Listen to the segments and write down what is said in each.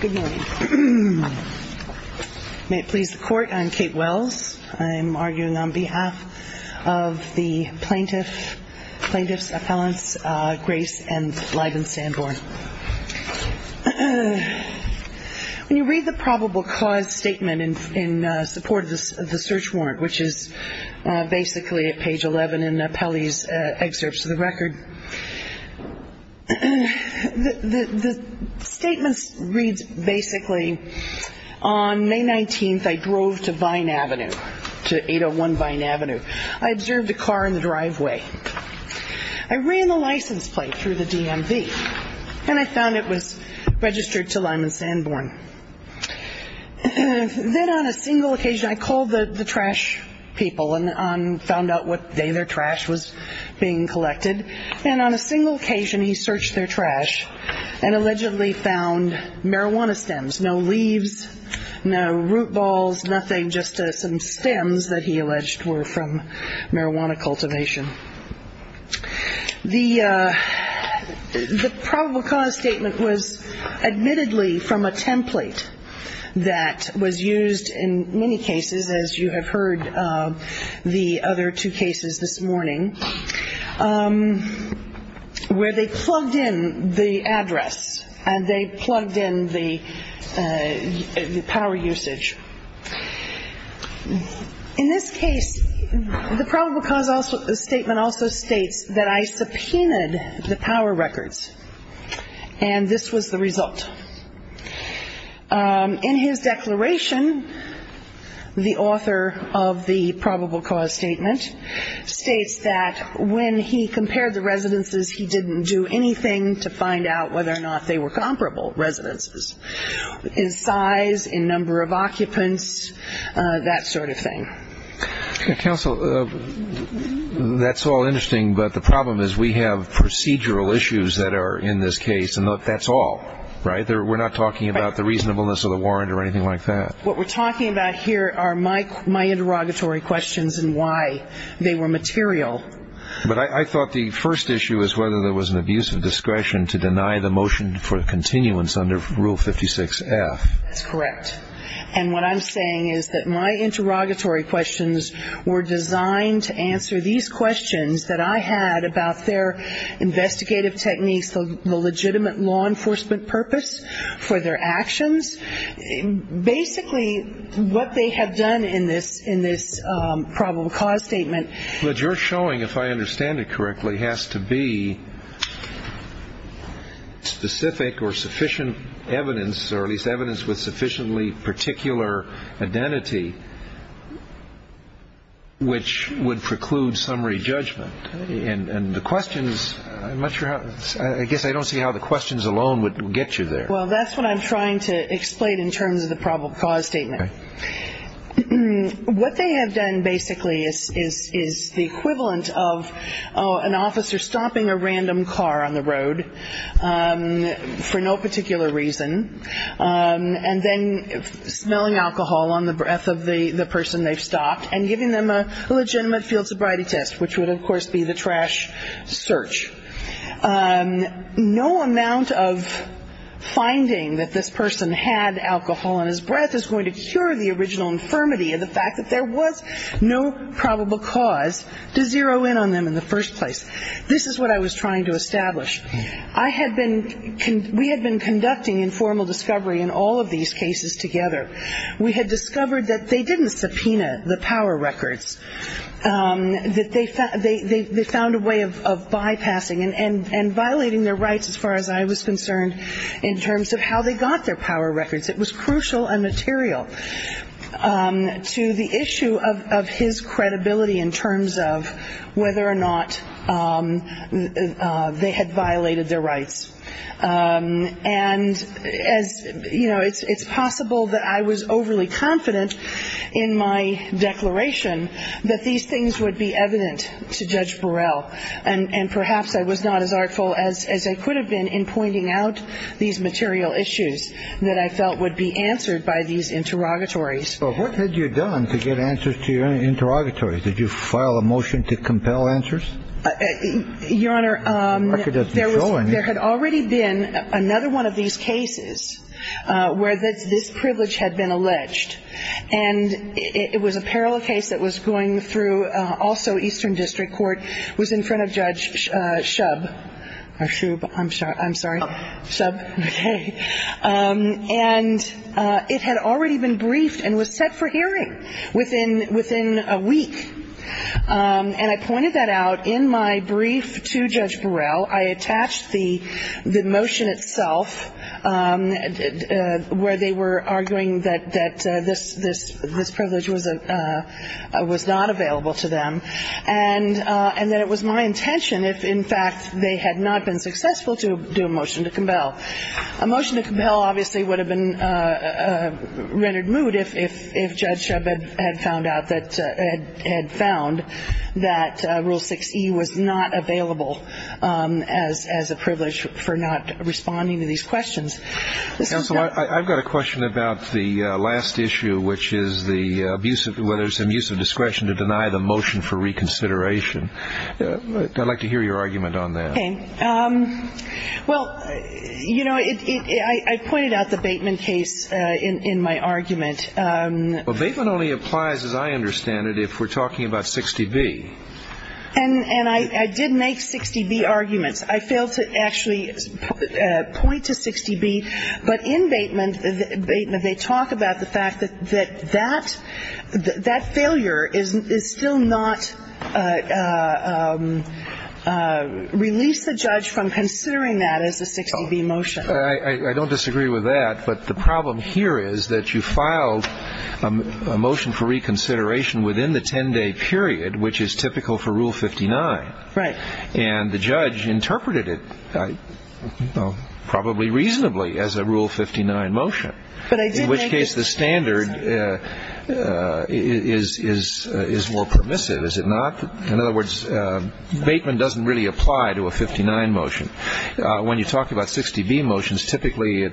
Good morning. May it please the Court, I'm Kate Wells. I'm arguing on behalf of the plaintiff's appellants Grace and Lydon Sanborn. When you read the probable cause statement in support of the search warrant, which is basically at page 11 in Pelley's excerpts of the record, the statement reads basically, On May 19, I drove to 801 Vine Avenue. I observed a car in the driveway. I ran the license plate through the DMV and I found it was registered to Lyman Sanborn. Then on a single occasion, I called the trash people and found out what day their trash was being collected. And on a single occasion, he searched their trash and allegedly found marijuana stems, no leaves, no root balls, nothing, just some stems that he alleged were from marijuana cultivation. The probable cause statement was admittedly from a template that was used in many cases, as you have heard the other two cases this morning, where they plugged in the address and they plugged in the power usage. In this case, the probable cause statement also states that I subpoenaed the power records and this was the result. In his declaration, the author of the probable cause statement states that when he compared the residences, he didn't do anything to find out whether or not they were comparable residences in size, in number of occupants, that sort of thing. Counsel, that's all interesting, but the problem is we have procedural issues that are in this case and that's all, right? We're not talking about the reasonableness of the warrant or anything like that. What we're talking about here are my interrogatory questions and why they were material. But I thought the first issue was whether there was an abuse of discretion to deny the motion for continuance under Rule 56F. That's correct. And what I'm saying is that my interrogatory questions were designed to answer these questions that I had about their investigative techniques, the legitimate law enforcement purpose for their actions. Basically, what they have done in this probable cause statement. What you're showing, if I understand it correctly, has to be specific or sufficient evidence or at least evidence with sufficiently particular identity which would preclude summary judgment. And the questions, I'm not sure how, I guess I don't see how the questions alone would get you there. Well, that's what I'm trying to explain in terms of the probable cause statement. Okay. What they have done basically is the equivalent of an officer stopping a random car on the road for no particular reason and then smelling alcohol on the breath of the person they've stopped and giving them a legitimate field sobriety test which would, of course, be the trash search. No amount of finding that this person had alcohol on his breath is going to cure the original infirmity of the fact that there was no probable cause to zero in on them in the first place. This is what I was trying to establish. We had been conducting informal discovery in all of these cases together. We had discovered that they didn't subpoena the power records, that they found a way of bypassing and violating their rights as far as I was concerned in terms of how they got their power records. It was crucial and material to the issue of his credibility in terms of whether or not they had violated their rights. And as you know, it's possible that I was overly confident in my declaration that these things would be evident to Judge Burrell. And perhaps I was not as artful as I could have been in pointing out these material issues that I felt would be answered by these interrogatories. So what had you done to get answers to your interrogatories? Did you file a motion to compel answers? Your Honor, there had already been another one of these cases where this privilege had been alleged. And it was a parallel case that was going through also Eastern District Court, was in front of Judge Shub. I'm sorry. Shub, okay. And it had already been briefed and was set for hearing within a week. And I pointed that out in my brief to Judge Burrell. I attached the motion itself where they were arguing that this privilege was not available to them and that it was my intention if, in fact, they had not been successful to do a motion to compel. A motion to compel obviously would have been rendered moot if Judge Shub had found that Rule 6E was not available as a privilege for not responding to these questions. Counsel, I've got a question about the last issue, which is whether there's some use of discretion to deny the motion for reconsideration. I'd like to hear your argument on that. Okay. Well, you know, I pointed out the Bateman case in my argument. Well, Bateman only applies, as I understand it, if we're talking about 60B. And I did make 60B arguments. I failed to actually point to 60B. But in Bateman, they talk about the fact that that failure is still not released the judge from considering that as a 60B motion. I don't disagree with that. But the problem here is that you filed a motion for reconsideration within the 10-day period, which is typical for Rule 59. Right. And the judge interpreted it probably reasonably as a Rule 59 motion, in which case the standard is more permissive, is it not? In other words, Bateman doesn't really apply to a 59 motion. When you talk about 60B motions, typically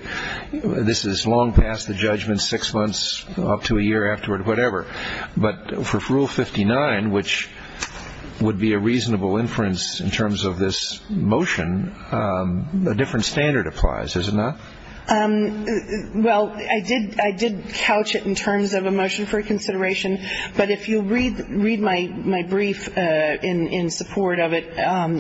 this is long past the judgment, six months up to a year afterward, whatever. But for Rule 59, which would be a reasonable inference in terms of this motion, a different standard applies, is it not? Well, I did couch it in terms of a motion for consideration. But if you read my brief in support of it,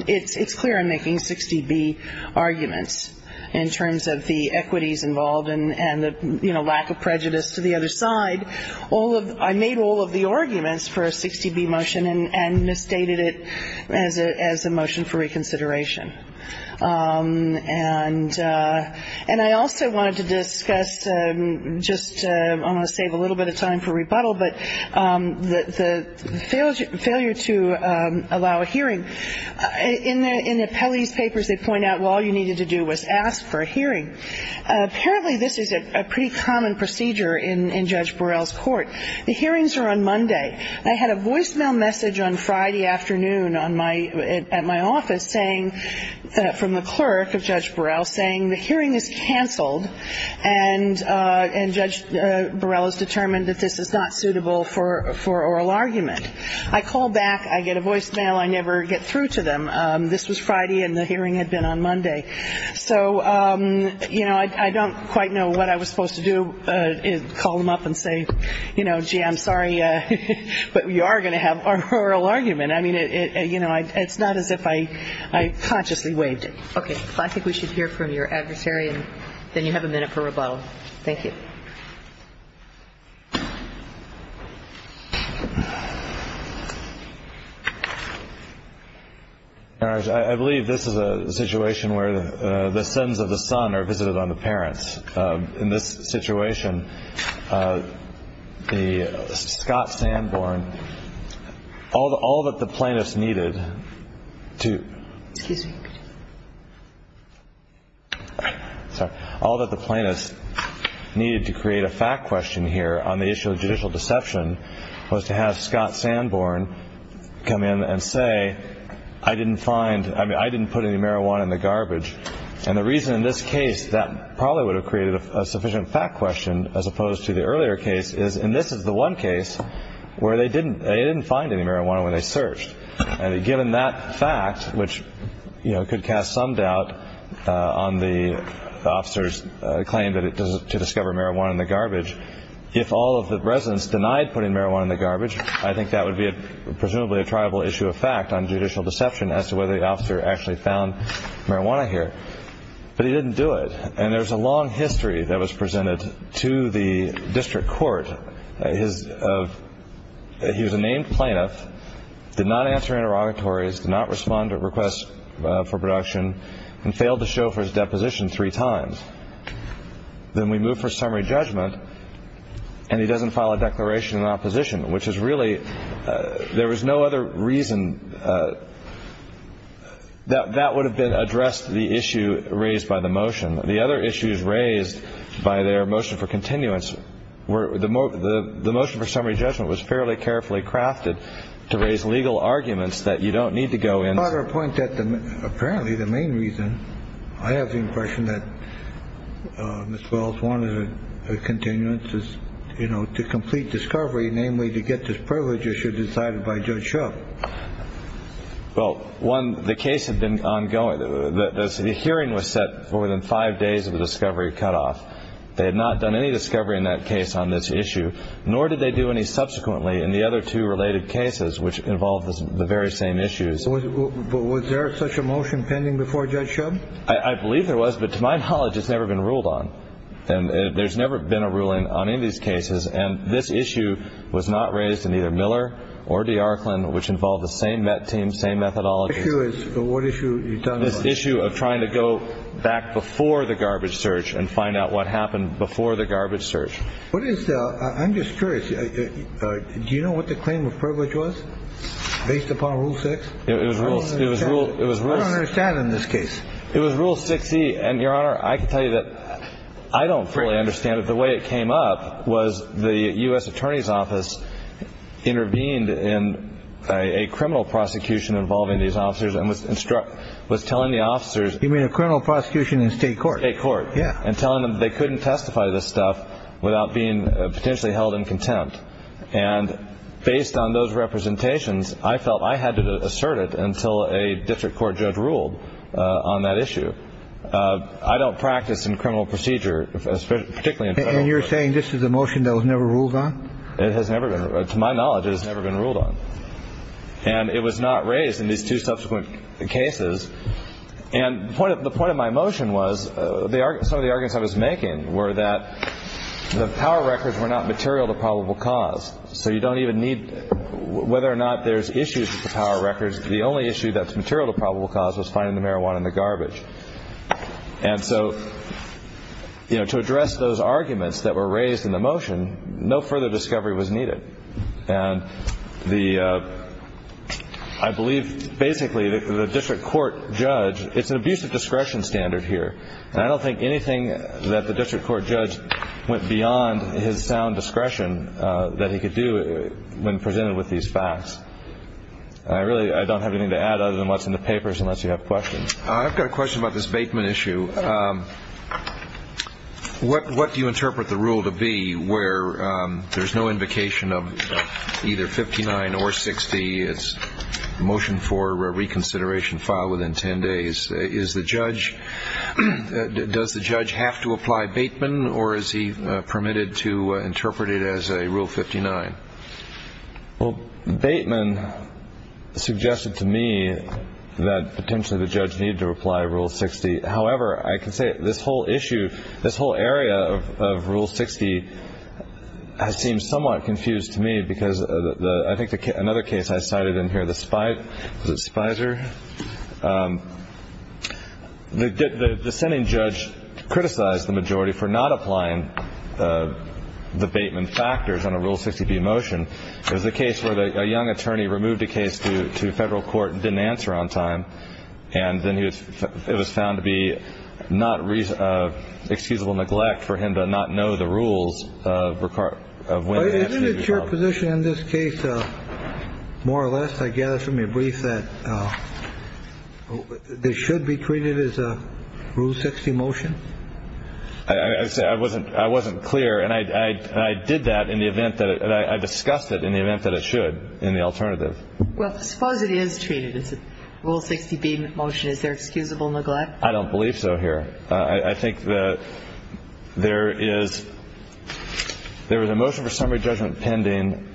it's clear I'm making 60B arguments in terms of the equities involved and the lack of prejudice to the other side. I made all of the arguments for a 60B motion and misstated it as a motion for reconsideration. And I also wanted to discuss just to save a little bit of time for rebuttal, but the failure to allow a hearing. In the Pelley's papers, they point out, well, all you needed to do was ask for a hearing. Apparently this is a pretty common procedure in Judge Burrell's court. The hearings are on Monday. I had a voicemail message on Friday afternoon at my office saying, from the clerk of Judge Burrell, saying the hearing is canceled and Judge Burrell has determined that this is not suitable for oral argument. I call back. I get a voicemail. I never get through to them. This was Friday and the hearing had been on Monday. So, you know, I don't quite know what I was supposed to do. Call them up and say, you know, gee, I'm sorry, but we are going to have our oral argument. I mean, you know, it's not as if I consciously waived it. Okay. I think we should hear from your adversary and then you have a minute for rebuttal. Thank you. I believe this is a situation where the sons of the son are visited on the parents. In this situation, the Scott Sanborn, although all that the plaintiffs needed to. Excuse me. All that the plaintiffs needed to create a fact question here on the issue of judicial deception was to have Scott Sanborn come in and say, I didn't find I mean, I didn't put any marijuana in the garbage. And the reason in this case that probably would have created a sufficient fact question as opposed to the earlier case is. And this is the one case where they didn't they didn't find any marijuana when they searched. And given that fact, which could cast some doubt on the officers claim that it does to discover marijuana in the garbage. If all of the residents denied putting marijuana in the garbage, I think that would be presumably a tribal issue of fact on judicial deception as to whether the officer actually found marijuana here. But he didn't do it. And there's a long history that was presented to the district court. His he was a named plaintiff, did not answer interrogatories, did not respond to requests for production and failed to show for his deposition three times. Then we move for summary judgment and he doesn't file a declaration of opposition, which is really there was no other reason that that would have been addressed. The issue raised by the motion. The other issues raised by their motion for continuance were the the motion for summary judgment was fairly carefully crafted to raise legal arguments that you don't need to go in. But our point that apparently the main reason I have the impression that Miss Wells wanted a continuance is, you know, to complete discovery. Namely, to get this privilege issue decided by judge. Well, one, the case had been ongoing. The hearing was set for within five days of the discovery cut off. They had not done any discovery in that case on this issue, nor did they do any subsequently in the other two related cases, which involved the very same issues. Was there such a motion pending before Judge Shub? I believe there was. But to my knowledge, it's never been ruled on. And there's never been a ruling on in these cases. And this issue was not raised in either Miller or the Arkland, which involved the same team, same methodology. What issue is this issue of trying to go back before the garbage search and find out what happened before the garbage search? What is I'm just curious. Do you know what the claim of privilege was based upon rule six? It was rule. It was rule. In this case, it was rule 60. And, Your Honor, I can tell you that I don't fully understand it. The way it came up was the U.S. Attorney's Office intervened in a criminal prosecution involving these officers and was instruct was telling the officers. You mean a criminal prosecution in state court? State court. Yeah. And telling them they couldn't testify to this stuff without being potentially held in contempt. And based on those representations, I felt I had to assert it until a district court judge ruled on that issue. I don't practice in criminal procedure, particularly in federal law. And you're saying this is a motion that was never ruled on? It has never been. To my knowledge, it has never been ruled on. And it was not raised in these two subsequent cases. And the point of my motion was some of the arguments I was making were that the power records were not material to probable cause. So you don't even need whether or not there's issues with the power records. The only issue that's material to probable cause was finding the marijuana in the garbage. And so, you know, to address those arguments that were raised in the motion, no further discovery was needed. And I believe basically the district court judge, it's an abuse of discretion standard here. And I don't think anything that the district court judge went beyond his sound discretion that he could do when presented with these facts. I really don't have anything to add other than what's in the papers unless you have questions. I've got a question about this Bateman issue. What do you interpret the rule to be where there's no invocation of either 59 or 60? It's a motion for reconsideration filed within 10 days. Is the judge does the judge have to apply Bateman or is he permitted to interpret it as a rule 59? Well, Bateman suggested to me that potentially the judge needed to apply rule 60. However, I can say this whole issue, this whole area of rule 60 seems somewhat confused to me because I think another case I cited in here, the Spicer. The dissenting judge criticized the majority for not applying the Bateman factors on a rule 60 motion. It was a case where a young attorney removed a case to federal court and didn't answer on time. And then it was found to be not reasonable neglect for him to not know the rules of when to answer. Isn't it your position in this case, more or less, I gather from your brief that this should be treated as a rule 60 motion? I say I wasn't I wasn't clear. And I did that in the event that I discussed it in the event that it should in the alternative. Well, suppose it is treated as a rule 60 motion. Is there excusable neglect? I don't believe so here. I think that there is there is a motion for summary judgment pending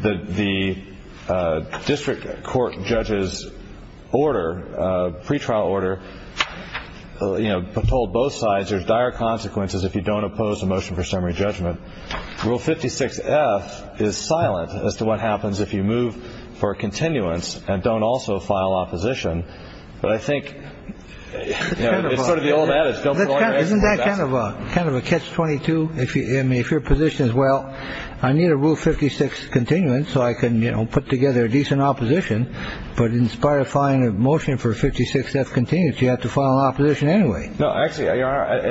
that the district court judges order pretrial order, you know, told both sides there's dire consequences if you don't oppose a motion for summary judgment. Rule 56 F is silent as to what happens if you move for a continuance and don't also file opposition. But I think it's sort of the old adage. Isn't that kind of a kind of a catch 22? If you if your position is, well, I need a rule 56 continuance so I can put together a decent opposition. But in spite of finding a motion for 56 F continues, you have to file opposition anyway. No, actually,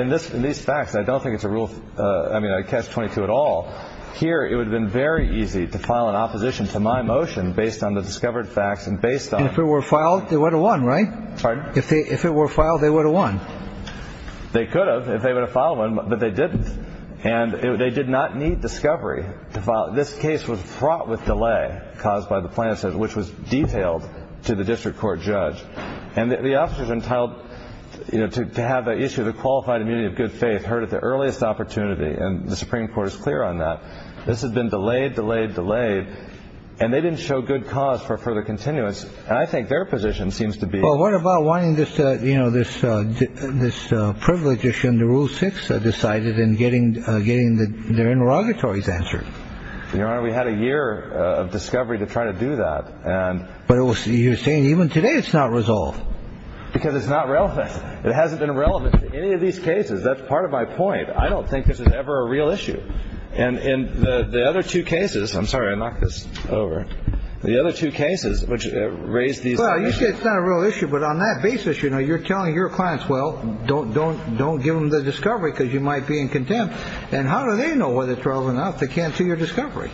in this in these facts, I don't think it's a rule. I mean, I catch 22 at all here. It would have been very easy to file an opposition to my motion based on the discovered facts and based on if it were filed. They would have won. Right. If they if it were filed, they would have won. They could have if they were to file one, but they didn't. And they did not need discovery to file. This case was fraught with delay caused by the plan, which was detailed to the district court judge. And the officers entitled to have the issue of the qualified immunity of good faith heard at the earliest opportunity. And the Supreme Court is clear on that. This has been delayed, delayed, delayed. And they didn't show good cause for further continuance. And I think their position seems to be, well, what about wanting this? You know, this this privilege issue in the rule six decided in getting getting their interrogatories answered. We had a year of discovery to try to do that. And but you're saying even today it's not resolved because it's not relevant. It hasn't been relevant to any of these cases. That's part of my point. I don't think this is ever a real issue. And in the other two cases, I'm sorry, I knocked this over. The other two cases, which raised the issue, it's not a real issue. But on that basis, you know, you're telling your clients, well, don't don't don't give them the discovery because you might be in contempt. And how do they know whether it's relevant enough to cancel your discovery?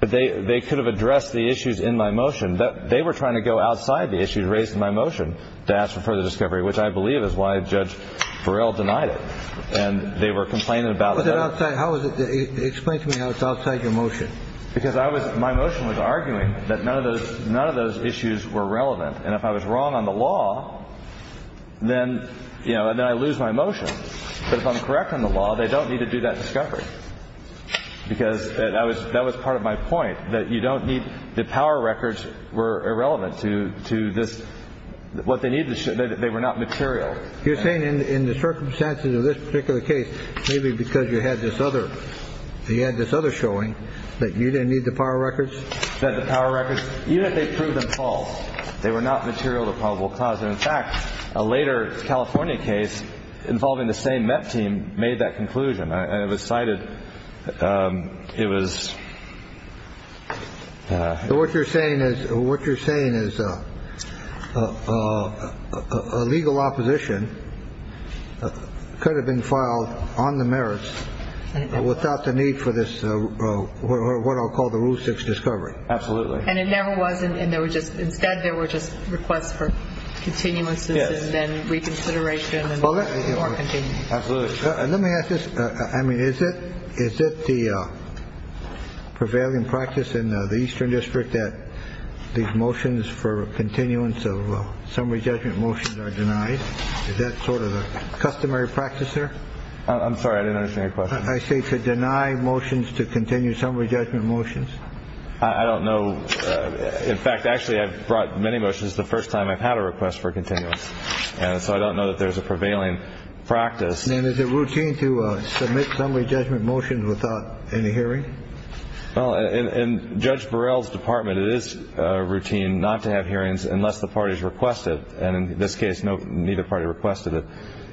But they they could have addressed the issues in my motion that they were trying to go outside the issue. Raised my motion to ask for further discovery, which I believe is why Judge Burrell denied it. And they were complaining about that. How is it? Explain to me how it's outside your motion. Because I was my motion was arguing that none of those none of those issues were relevant. And if I was wrong on the law, then, you know, then I lose my motion. But if I'm correct on the law, they don't need to do that discovery because that was that was part of my point that you don't need. The power records were irrelevant to to this, what they need. They were not material. You're saying in the circumstances of this particular case, maybe because you had this other you had this other showing that you didn't need the power records, that the power records, even if they prove them false, they were not material to probable cause. In fact, a later California case involving the same team made that conclusion. And it was cited. It was. So what you're saying is what you're saying is a legal opposition could have been filed on the merits without the need for this. What I'll call the rule six discovery. Absolutely. And it never was. And there was just instead there were just requests for continuances and reconsideration. Absolutely. Let me ask this. I mean, is it is it the prevailing practice in the eastern district that these motions for continuance of summary judgment motions are denied? Is that sort of a customary practice there? I'm sorry. I didn't understand your question. I say to deny motions to continue summary judgment motions. I don't know. In fact, actually, I've brought many motions the first time I've had a request for continuance. And so I don't know that there's a prevailing practice. And is it routine to submit summary judgment motions without any hearing? Well, in Judge Burrell's department, it is routine not to have hearings unless the parties requested. And in this case, no, neither party requested it.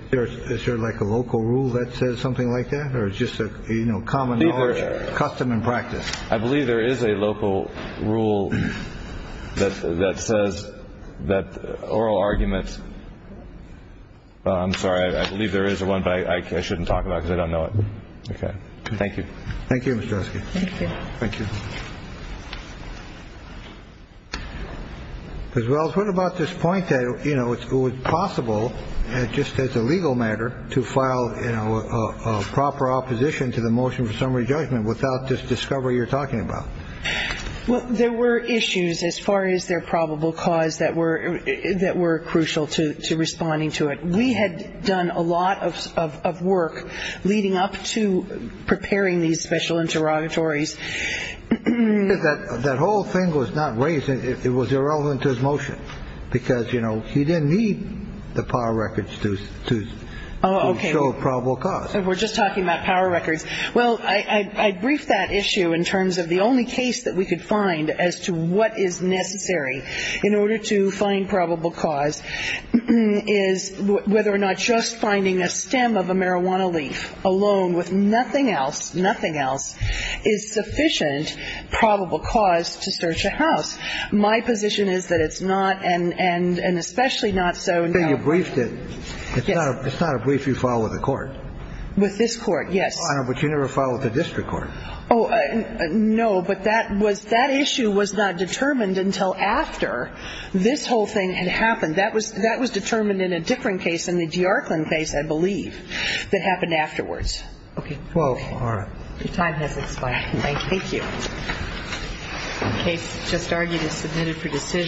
There is there like a local rule that says something like that or just, you know, common custom and practice. I believe there is a local rule that says that oral arguments. I'm sorry. I believe there is a one. I shouldn't talk about it. I don't know it. OK. Thank you. Thank you. Thank you. Because, well, what about this point? You know, it's possible just as a legal matter to file, you know, a proper opposition to the motion for summary judgment without this discovery you're talking about. Well, there were issues as far as their probable cause that were that were crucial to responding to it. We had done a lot of work leading up to preparing these special interrogatories. That whole thing was not raised. It was irrelevant to his motion because, you know, he didn't need the power records to show probable cause. We're just talking about power records. Well, I briefed that issue in terms of the only case that we could find as to what is necessary in order to find probable cause is whether or not just finding a stem of a marijuana leaf alone with nothing else, nothing else is sufficient probable cause to search a house. My position is that it's not and especially not so. You said you briefed it. It's not a brief you filed with the court. With this court, yes. But you never filed with the district court. Oh, no, but that was that issue was not determined until after this whole thing had happened. That was that was determined in a different case in the DeArkland case, I believe, that happened afterwards. OK. Well, all right. Your time has expired. Thank you. Thank you. The case just argued is submitted for decision.